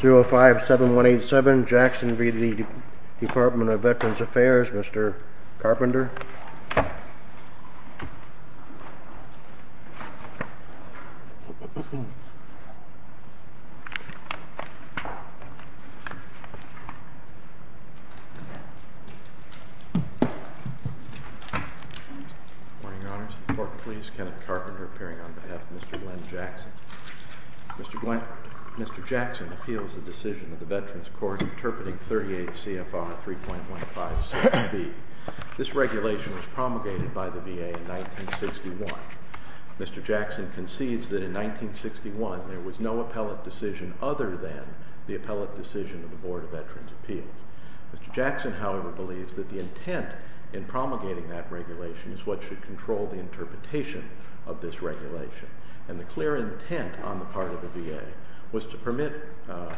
057187 Jackson v. The Department of Veterans Affairs. Mr. Carpenter. Morning honors report, please. Kenneth Carpenter appearing on behalf of Mr Glenn Jackson. Mr. Glenn, Mr. Jackson appeals the decision of the Veterans Court interpreting 38 CFR 3.25. This regulation was promulgated by the VA in 1961. Mr. Jackson concedes that in 1961 there was no appellate decision other than the appellate decision of the Board of Veterans Appeals. Mr. Jackson, however, believes that the intent in promulgating that regulation is what should control the interpretation of this regulation. And the clear intent on the part of the VA was to permit, uh,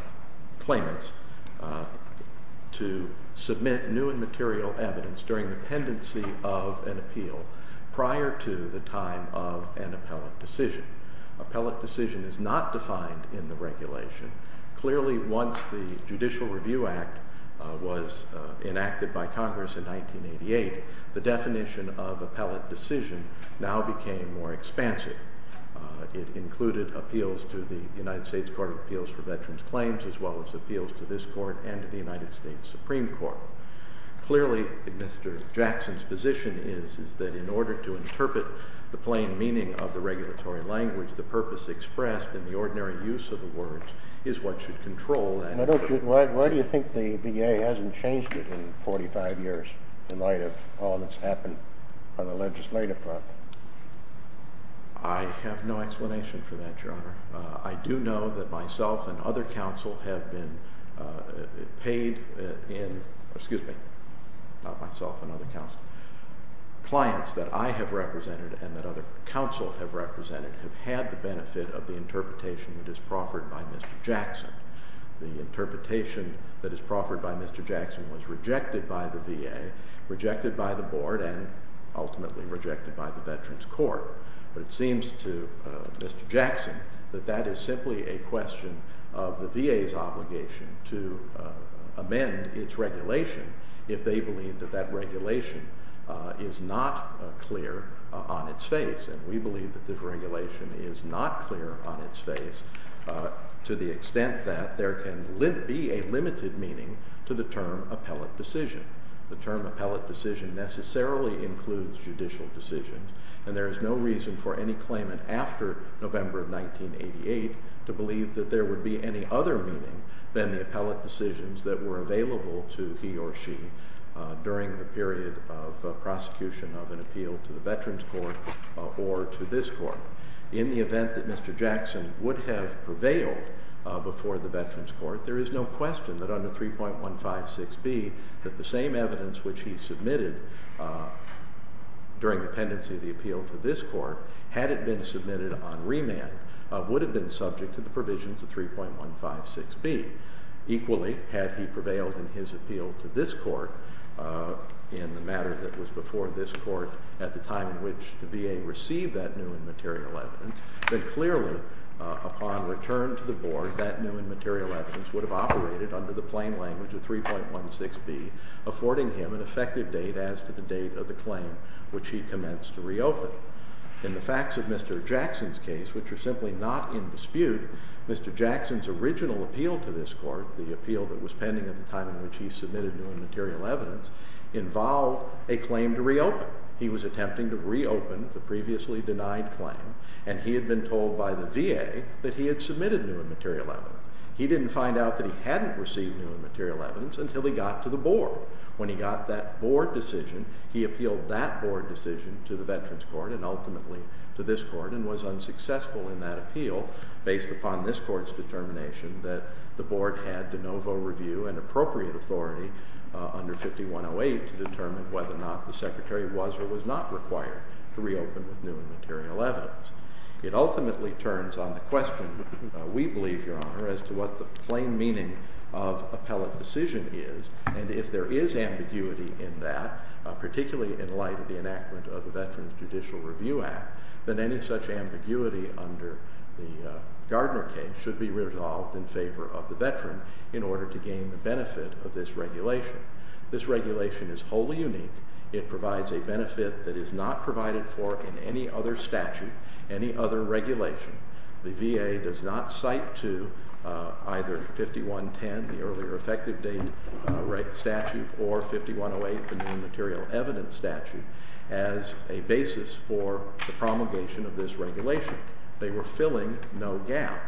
claimants, uh, to submit new and material evidence during the pendency of an appeal prior to the time of an appellate decision. Appellate decision is not defined in the regulation. Clearly, once the Judicial Review Act was enacted by Congress in 1988, the decision now became more expansive. It included appeals to the United States Court of Appeals for Veterans Claims, as well as appeals to this court and to the United States Supreme Court. Clearly, Mr. Jackson's position is, is that in order to interpret the plain meaning of the regulatory language, the purpose expressed in the ordinary use of the words is what should control. And I don't, why do you think the VA hasn't changed it in 45 years in light of all that's happened on the legislative front? I have no explanation for that, Your Honor. I do know that myself and other counsel have been, uh, paid in, excuse me, not myself and other counsel, clients that I have represented and that other counsel have represented have had the benefit of the interpretation that is proffered by Mr. Jackson. The interpretation that is proffered by Mr. Jackson was rejected by the VA, rejected by the board and ultimately rejected by the Veterans Court. But it seems to Mr. Jackson that that is simply a question of the VA's obligation to amend its regulation if they believe that that regulation is not clear on its face. And we believe that this regulation is not clear on its face to the extent that there can be a limited meaning to the term appellate decision. The term appellate decision necessarily includes judicial decisions and there is no reason for any claimant after November of 1988 to believe that there would be any other meaning than the appellate decisions that were available to he or she during the period of prosecution of an appeal to the Veterans Court or to this court. In the event that Mr. Jackson would have prevailed before the Veterans Court, there is no question that under 3.156B that the same evidence which he submitted during the pendency of the appeal to this court, had it been submitted on remand, would have been subject to the provisions of 3.156B. Equally, had he prevailed in his appeal to this court in the matter that was before this court at the time in which the VA received that new and material evidence, then clearly upon return to the board that new and material evidence would have operated under the plain language of 3.16B affording him an effective date as to the date of the claim which he commenced to reopen. In the facts of Mr. Jackson's case, which are simply not in dispute, Mr. Jackson's original appeal to this court, the appeal that was pending at the time in which he submitted new and material evidence, involved a claim to reopen. He was attempting to reopen the previously denied claim and he had been told by the VA that he had submitted new and material evidence. He didn't find out that he hadn't received new and material evidence until he got to the board. When he got that board decision, he appealed that board decision to the Veterans Court and ultimately to this court and was unsuccessful in that appeal based upon this court's determination that the board had de novo review and appropriate authority under 5108 to determine whether or not the secretary was or was not required to reopen with new and material evidence. It ultimately turns on a question, we believe, Your Honor, as to what the plain meaning of appellate decision is. And if there is ambiguity in that, particularly in light of the enactment of the Veterans Judicial Review Act, than any such ambiguity under the Gardner case should be resolved in favor of the veteran in order to gain the benefit of this regulation. This regulation is wholly unique. It provides a benefit that is not provided for in any other statute, any other regulation. The VA does not cite to either 5110, the earlier effective date statute, or 5108, the new and material evidence statute, as a basis for the promulgation of this regulation. They were filling no gap.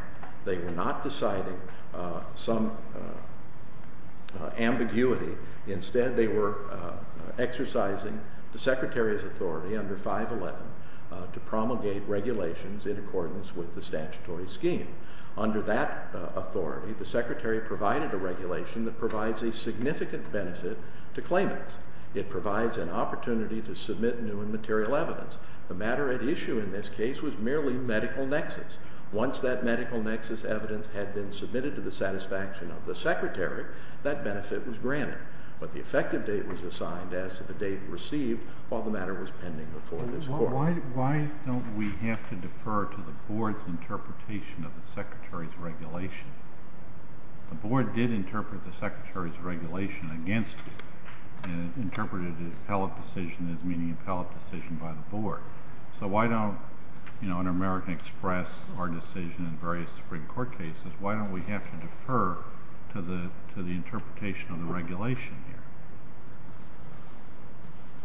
They were not deciding some ambiguity. Instead, they were exercising the regulations in accordance with the statutory scheme. Under that authority, the secretary provided a regulation that provides a significant benefit to claimants. It provides an opportunity to submit new and material evidence. The matter at issue in this case was merely medical nexus. Once that medical nexus evidence had been submitted to the satisfaction of the secretary, that benefit was granted. But the effective date was assigned as to the date of the decision. We have to defer to the board's interpretation of the secretary's regulation. The board did interpret the secretary's regulation against it and interpreted his appellate decision as meaning appellate decision by the board. So why don't, you know, in American Express, our decision in various Supreme Court cases, why don't we have to defer to the interpretation of the regulation here?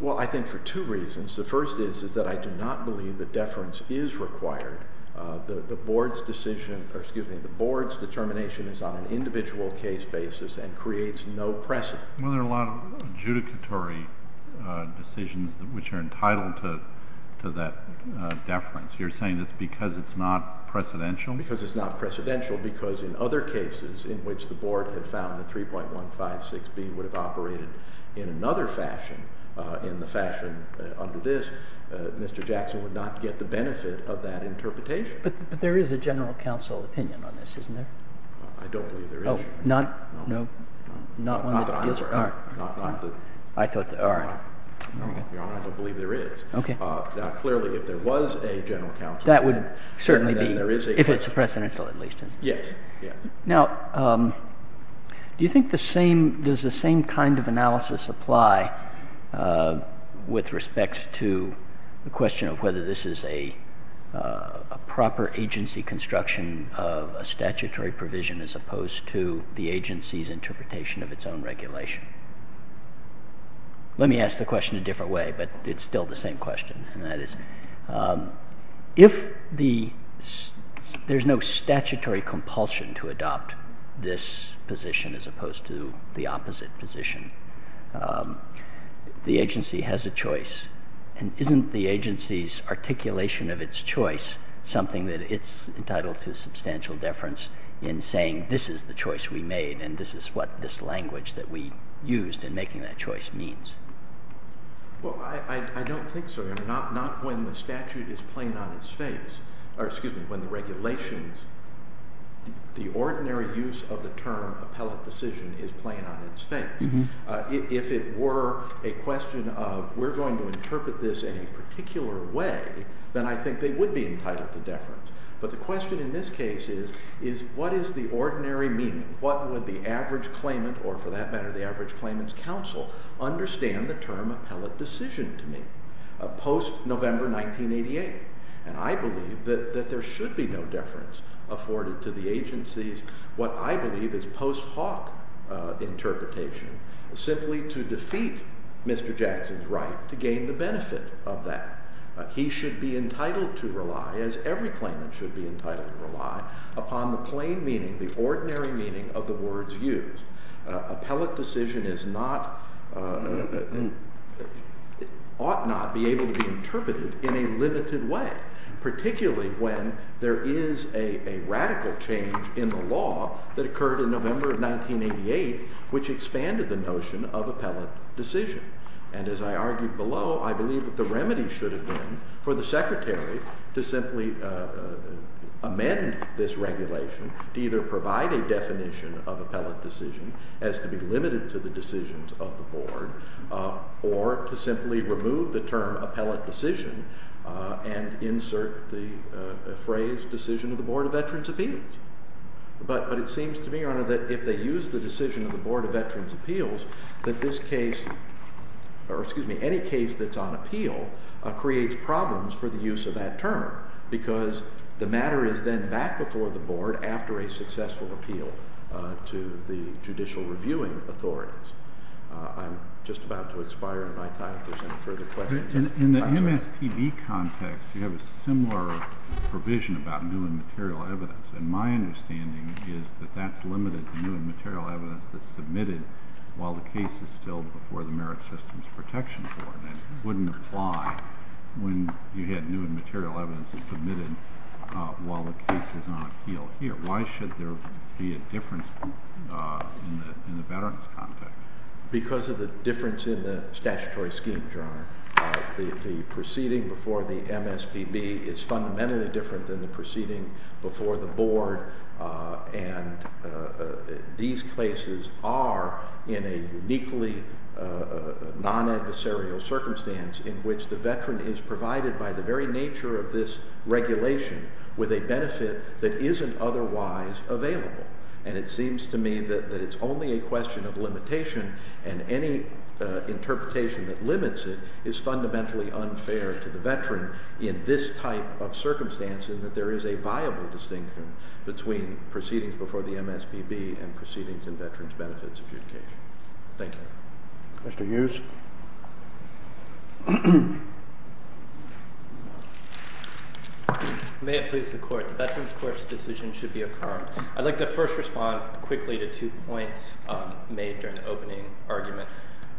Well, I think for two reasons. The first is, is that I do not believe the deference is required. The board's decision, or excuse me, the board's determination is on an individual case basis and creates no precedent. Well, there are a lot of adjudicatory decisions which are entitled to that deference. You're saying it's because it's not precedential? Because it's not precedential, because in other cases in which the board had defined that 3.156B would have operated in another fashion, in the fashion under this, Mr. Jackson would not get the benefit of that interpretation. But there is a general counsel opinion on this, isn't there? I don't believe there is. Oh, not, no, not one that deals with art? Not that I'm aware of. I thought that, all right. Your Honor, I don't believe there is. Now, clearly, if there was a general counsel opinion, then there is a precedent. That would certainly be, if it's precedential at least, isn't it? Yes, yes. Now, do you think the same, does the same kind of analysis apply with respect to the question of whether this is a proper agency construction of a statutory provision as opposed to the agency's interpretation of its own regulation? Let me ask the question a different way, but it's still the same question, and that is, if there's no statutory compulsion to adopt this position as opposed to the opposite position, the agency has a choice, and isn't the agency's articulation of its choice something that it's entitled to substantial deference in saying this is the choice we made, and this is what this language that we used in making that choice means? Well, I don't think so, Your Honor. Not when the statute is plain on its face, or excuse me, when the regulations, the ordinary use of the term appellate decision is plain on its face. If it were a question of we're going to interpret this in a particular way, then I think they would be entitled to deference. But the question in this case is, is what is the ordinary meaning? What would the average claimant, or for that matter, the average claimant's counsel, understand the term appellate decision to me, post-November 1988? And I believe that there should be no deference afforded to the agency's what I believe is post-Hawk interpretation, simply to defeat Mr. Jackson's right to gain the benefit of that. He should be entitled to rely, as every claimant should be entitled to rely, upon the plain meaning, the ordinary meaning of the words used. Appellate decision is not, ought not be able to be interpreted in a limited way, particularly when there is a radical change in the law that occurred in November of 1988, which expanded the notion of appellate decision. And as I argued below, I believe that the remedy should have been for the Secretary to simply amend this regulation to either provide a definition of appellate decision as to be limited to the decisions of the Board, or to simply remove the term appellate decision and insert the phrase decision of the Board of Veterans' Appeals. But it seems to me, Your Honor, that if they use the decision of the Board of Veterans' Appeals, that this case, or excuse me, any case that's on appeal, creates problems for the use of that term, because the matter is then back before the Board after a successful appeal to the judicial reviewing authorities. I'm just about to expire on my time if there's any further questions. I'm sorry. In the MSPB context, you have a similar provision about new and material evidence. And my understanding is that that's limited to new and material evidence that's submitted while the case is still before the Merit Systems Protection Board. That wouldn't apply when you had new and material evidence submitted while the case is on appeal here. Why should there be a difference in the veterans' context? Because of the difference in the statutory scheme, Your Honor. The proceeding before the MSPB is fundamentally different than the proceeding before the Board. And these cases are in a uniquely non-adversarial circumstance in which the veteran is provided by the very nature of this regulation with a benefit that isn't otherwise available. And it seems to me that it's only a question of limitation, and any interpretation that limits it is fundamentally unfair to the veteran in this type of circumstance, and that there is a viable distinction between proceedings before the MSPB and proceedings in veterans' benefits adjudication. Thank you. Mr. Hughes? May it please the Court. The Veterans' Court's decision should be affirmed. I'd like to first respond quickly to two points made during the opening argument.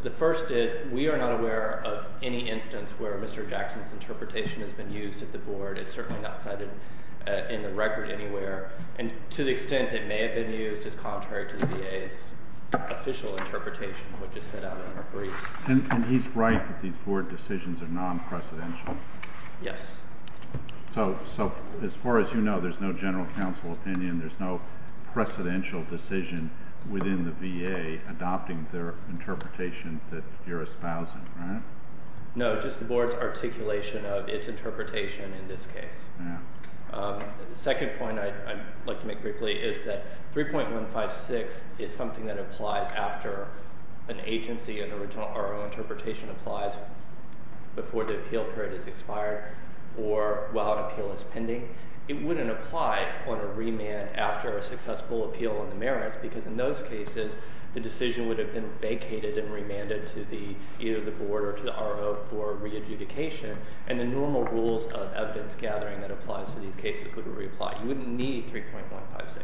The first is we are not aware of any instance where Mr. Jackson's interpretation has been used at the Board. It's certainly not cited in the record anywhere. And to the extent it may have been used is contrary to the VA's official interpretation, which is set out in our briefs. And he's right that these Board decisions are non-precedential. Yes. So as far as you know, there's no general counsel opinion. There's no precedential decision within the VA adopting their interpretation that you're espousing, right? No, just the Board's articulation of its interpretation in this case. Yeah. The second point I'd like to make quickly is that 3.156 is something that applies after an agency, an original RO interpretation applies before the appeal period is expired or while appeal is pending. It wouldn't apply on a remand after a successful appeal on the merits because in those cases, the decision would have been vacated and remanded to either the Board or to the RO for re-adjudication. And the normal rules of evidence gathering that applies to these cases would reapply. You wouldn't need 3.156.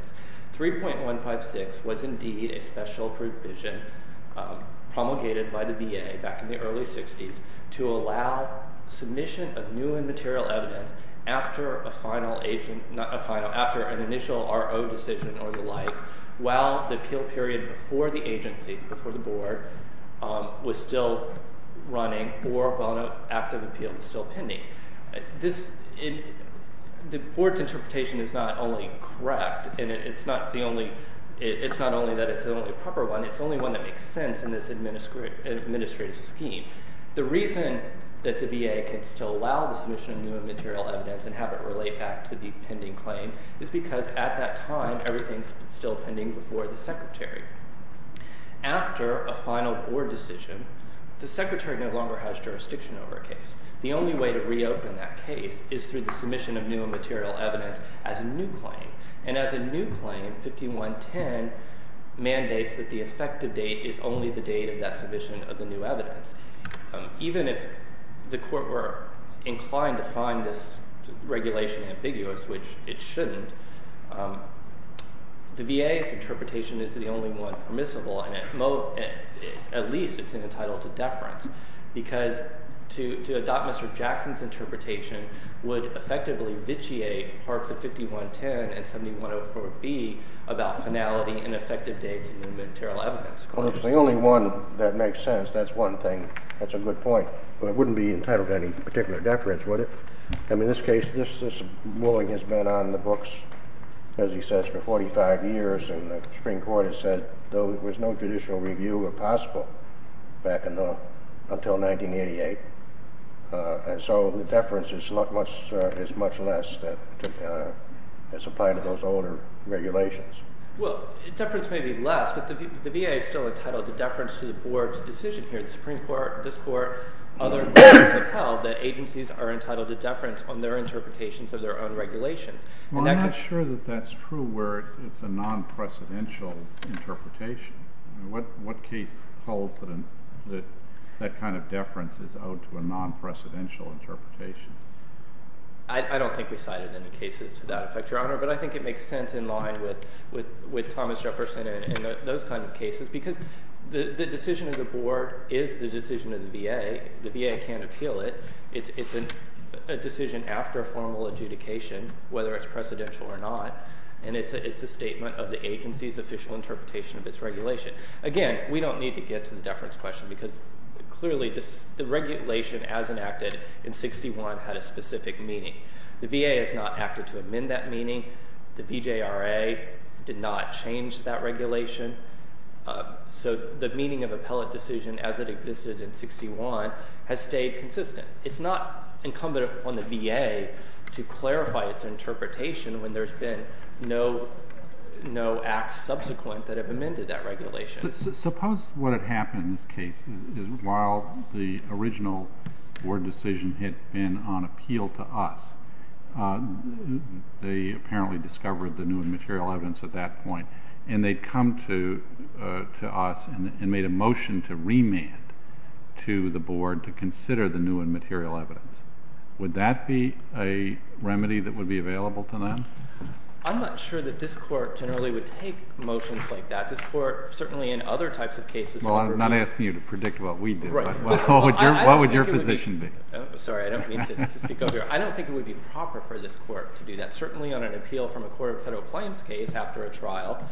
3.156 was indeed a special provision promulgated by the VA back in the early 60s to allow submission of new and material evidence after an initial RO decision or the like while the appeal period before the agency, before the Board, was still running or while an active appeal was still pending. The Board's interpretation is not only correct and it's not only that it's the only proper one. It's the only one that makes sense in this administrative scheme. The reason that the VA can still allow the submission of new and material evidence and have it relate back to the pending claim is because at that time, everything is still pending before the Secretary. After a final Board decision, the Secretary no longer has jurisdiction over a case. The only way to reopen that case is through the submission of new and material evidence as a new claim. And as a new claim, 5.110 mandates that the effective date is only the date of that submission of the new evidence. Even if the Court were inclined to find this regulation ambiguous, which it shouldn't, the VA's interpretation is the only one permissible and at least it's entitled to deference. Because to adopt Mr. Jackson's interpretation would effectively vitiate parts of 5.110 and 7.104B about finality and effective dates of new and material evidence. Well, if it's the only one that makes sense, that's one thing. That's a good point. But it wouldn't be entitled to any particular deference, would it? In this case, this ruling has been on the books, as he says, for 45 years and the Supreme Court has said there was no judicial review possible back until 1988. And so the deference is much less as applied to those older regulations. Well, deference may be less, but the VA is still entitled to deference to the Board's decision here. The Supreme Court, this Court, other courts have held that agencies are entitled to deference on their interpretations of their own regulations. Well, I'm not sure that that's true where it's a non-precedential interpretation. What case holds that that kind of deference is out to a non-precedential interpretation? I don't think we cited any cases to that effect, Your Honor. But I think it makes sense in line with Thomas Jefferson and those kinds of cases because the decision of the Board is the decision of the VA. The VA can't appeal it. It's a decision after a formal adjudication, whether it's precedential or not, and it's a statement of the agency's official interpretation of its regulation. Again, we don't need to get to the deference question because clearly the regulation as enacted in 61 had a specific meaning. The VA has not acted to amend that meaning. The VJRA did not change that regulation. So the meaning of appellate decision as it existed in 61 has stayed consistent. It's not incumbent upon the VA to clarify its interpretation when there's been no acts subsequent that have amended that regulation. Suppose what had happened in this case is while the original Board decision had been on appeal to us, they apparently discovered the new material evidence at that point, and they'd come to us and made a motion to remand to the Board to consider the new and material evidence. Would that be a remedy that would be available to them? I'm not sure that this Court generally would take motions like that. This Court certainly in other types of cases... Well, I'm not asking you to predict what we do. What would your position be? Sorry, I don't mean to speak over you. I don't think it would be proper for this Court to do that. Certainly on an appeal from a court of federal claims case after a trial,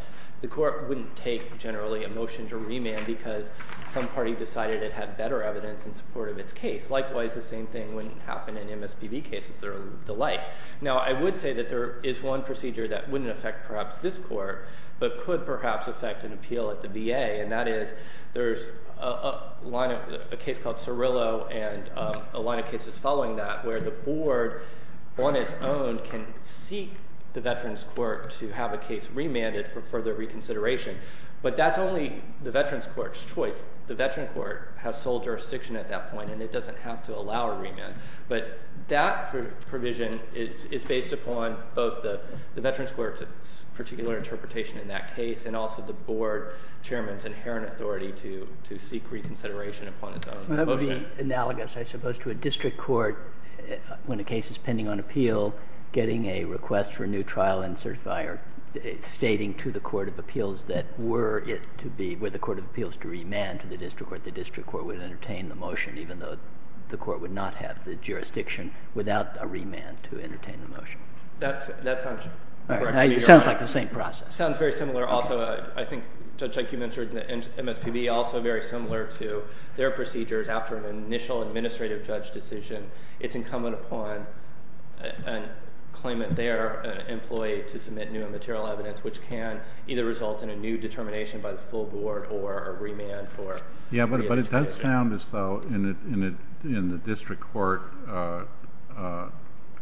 the Court wouldn't take generally a motion to remand because some party decided it had better evidence in support of its case. Likewise, the same thing wouldn't happen in MSPB cases. They're alike. Now, I would say that there is one procedure that wouldn't affect perhaps this Court, but could perhaps affect an appeal at the VA, and that is there's a line of... a case called Cirillo and a line of cases following that where the Board on its own can seek the Veterans Court to have a case remanded for further reconsideration. But that's only the Veterans Court's choice. The Veterans Court has sole jurisdiction at that point, and it doesn't have to allow a remand. But that provision is based upon both the Veterans Court's particular interpretation in that case and also the Board Chairman's inherent authority to seek reconsideration upon its own motion. That would be analogous, I suppose, to a district court when a case is pending on appeal getting a request for a new trial and certifying or stating to the Court of Appeals that were it to be... were the Court of Appeals to remand to the district court, the district court would entertain the motion even though the court would not have the jurisdiction without a remand to entertain the motion. That sounds correct to me, Your Honor. It sounds like the same process. It sounds very similar also. I think, Judge, like you mentioned, MSPB also very similar to their procedures after an initial administrative judge decision. It's incumbent upon a claimant there, an employee, to submit new and material evidence which can either result in a new determination by the full board or a remand for... Yeah, but it does sound as though in the district court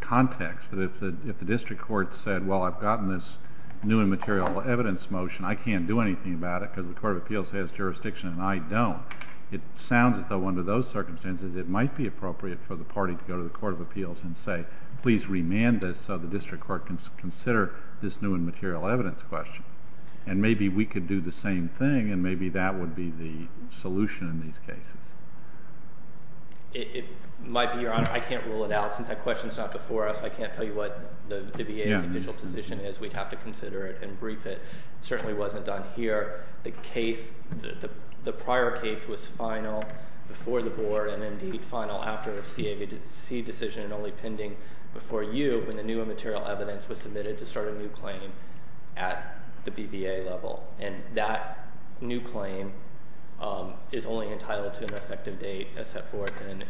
context that if the district court said, well, I've gotten this new and material evidence motion. I can't do anything about it because the Court of Appeals has jurisdiction and I don't. It sounds as though under those circumstances, it might be appropriate for the party to go to the Court of Appeals and say, please remand this so the district court can consider this new and material evidence question. Maybe we could do the same thing and maybe that would be the solution in these cases. It might be, Your Honor. I can't rule it out since that question is not before us. I can't tell you what the VA's initial position is. We'd have to consider it and brief it. It certainly wasn't done here. The case, the prior case was final before the board and indeed final after CAVC decision and only pending before you when the new and material evidence was submitted to start a new claim at the BVA level. And that new claim is only entitled to an effective date as set forth in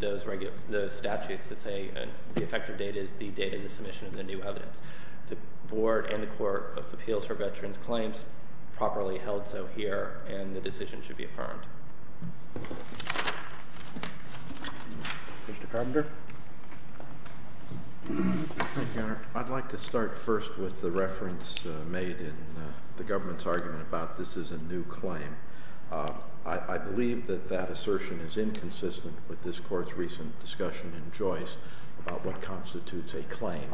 those statutes that say the effective date is the date of the submission of the new evidence. The board and the Court of Appeals for veterans claims properly held so here and the decision should be affirmed. Mr. Carpenter. Thank you, Your Honor. I'd like to start first with the reference made in the government's argument about this is a new claim. I believe that that assertion is inconsistent with this court's recent discussion in Joyce about what constitutes a claim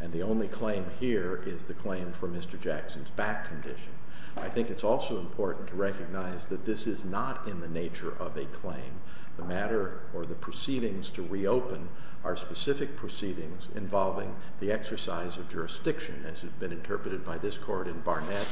and the only claim here is the claim for Mr. Jackson's back condition. I think it's also important to recognize that this is not a new claim in the nature of a claim. The matter or the proceedings to reopen are specific proceedings involving the exercise of jurisdiction as has been interpreted by this court in Barnett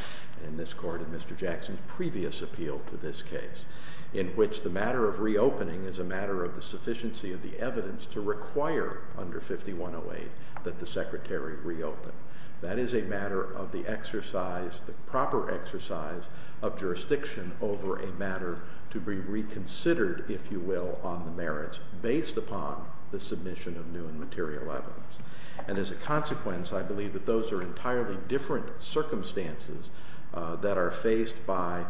and this court in Mr. Jackson's previous appeal to this case in which the matter of reopening is a matter of the sufficiency of the evidence to require under 5108 that the secretary reopen. That is a matter of the exercise, the proper exercise of jurisdiction over a matter to be reconsidered, if you will, on the merits based upon the submission of new and material evidence. And as a consequence, I believe that those are entirely different circumstances that are faced by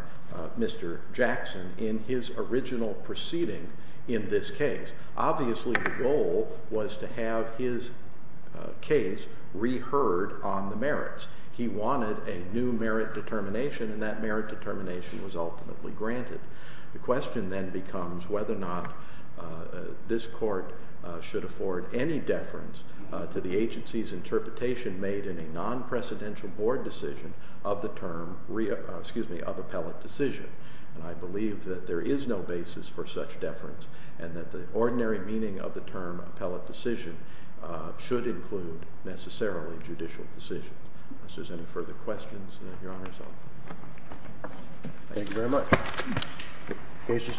Mr. Jackson in his original proceeding in this case. Obviously, the goal was to have his case reheard on the merits. He wanted a new merit determination and that merit determination was ultimately granted. The question then becomes whether or not this court should afford any deference to the agency's interpretation made in a non-presidential board decision of the term of appellate decision. I believe that there is no basis for such deference and that the ordinary meaning of the term appellate decision should include necessarily judicial decision. If there are any further questions, Your Honor. Thank you very much. Case is submitted.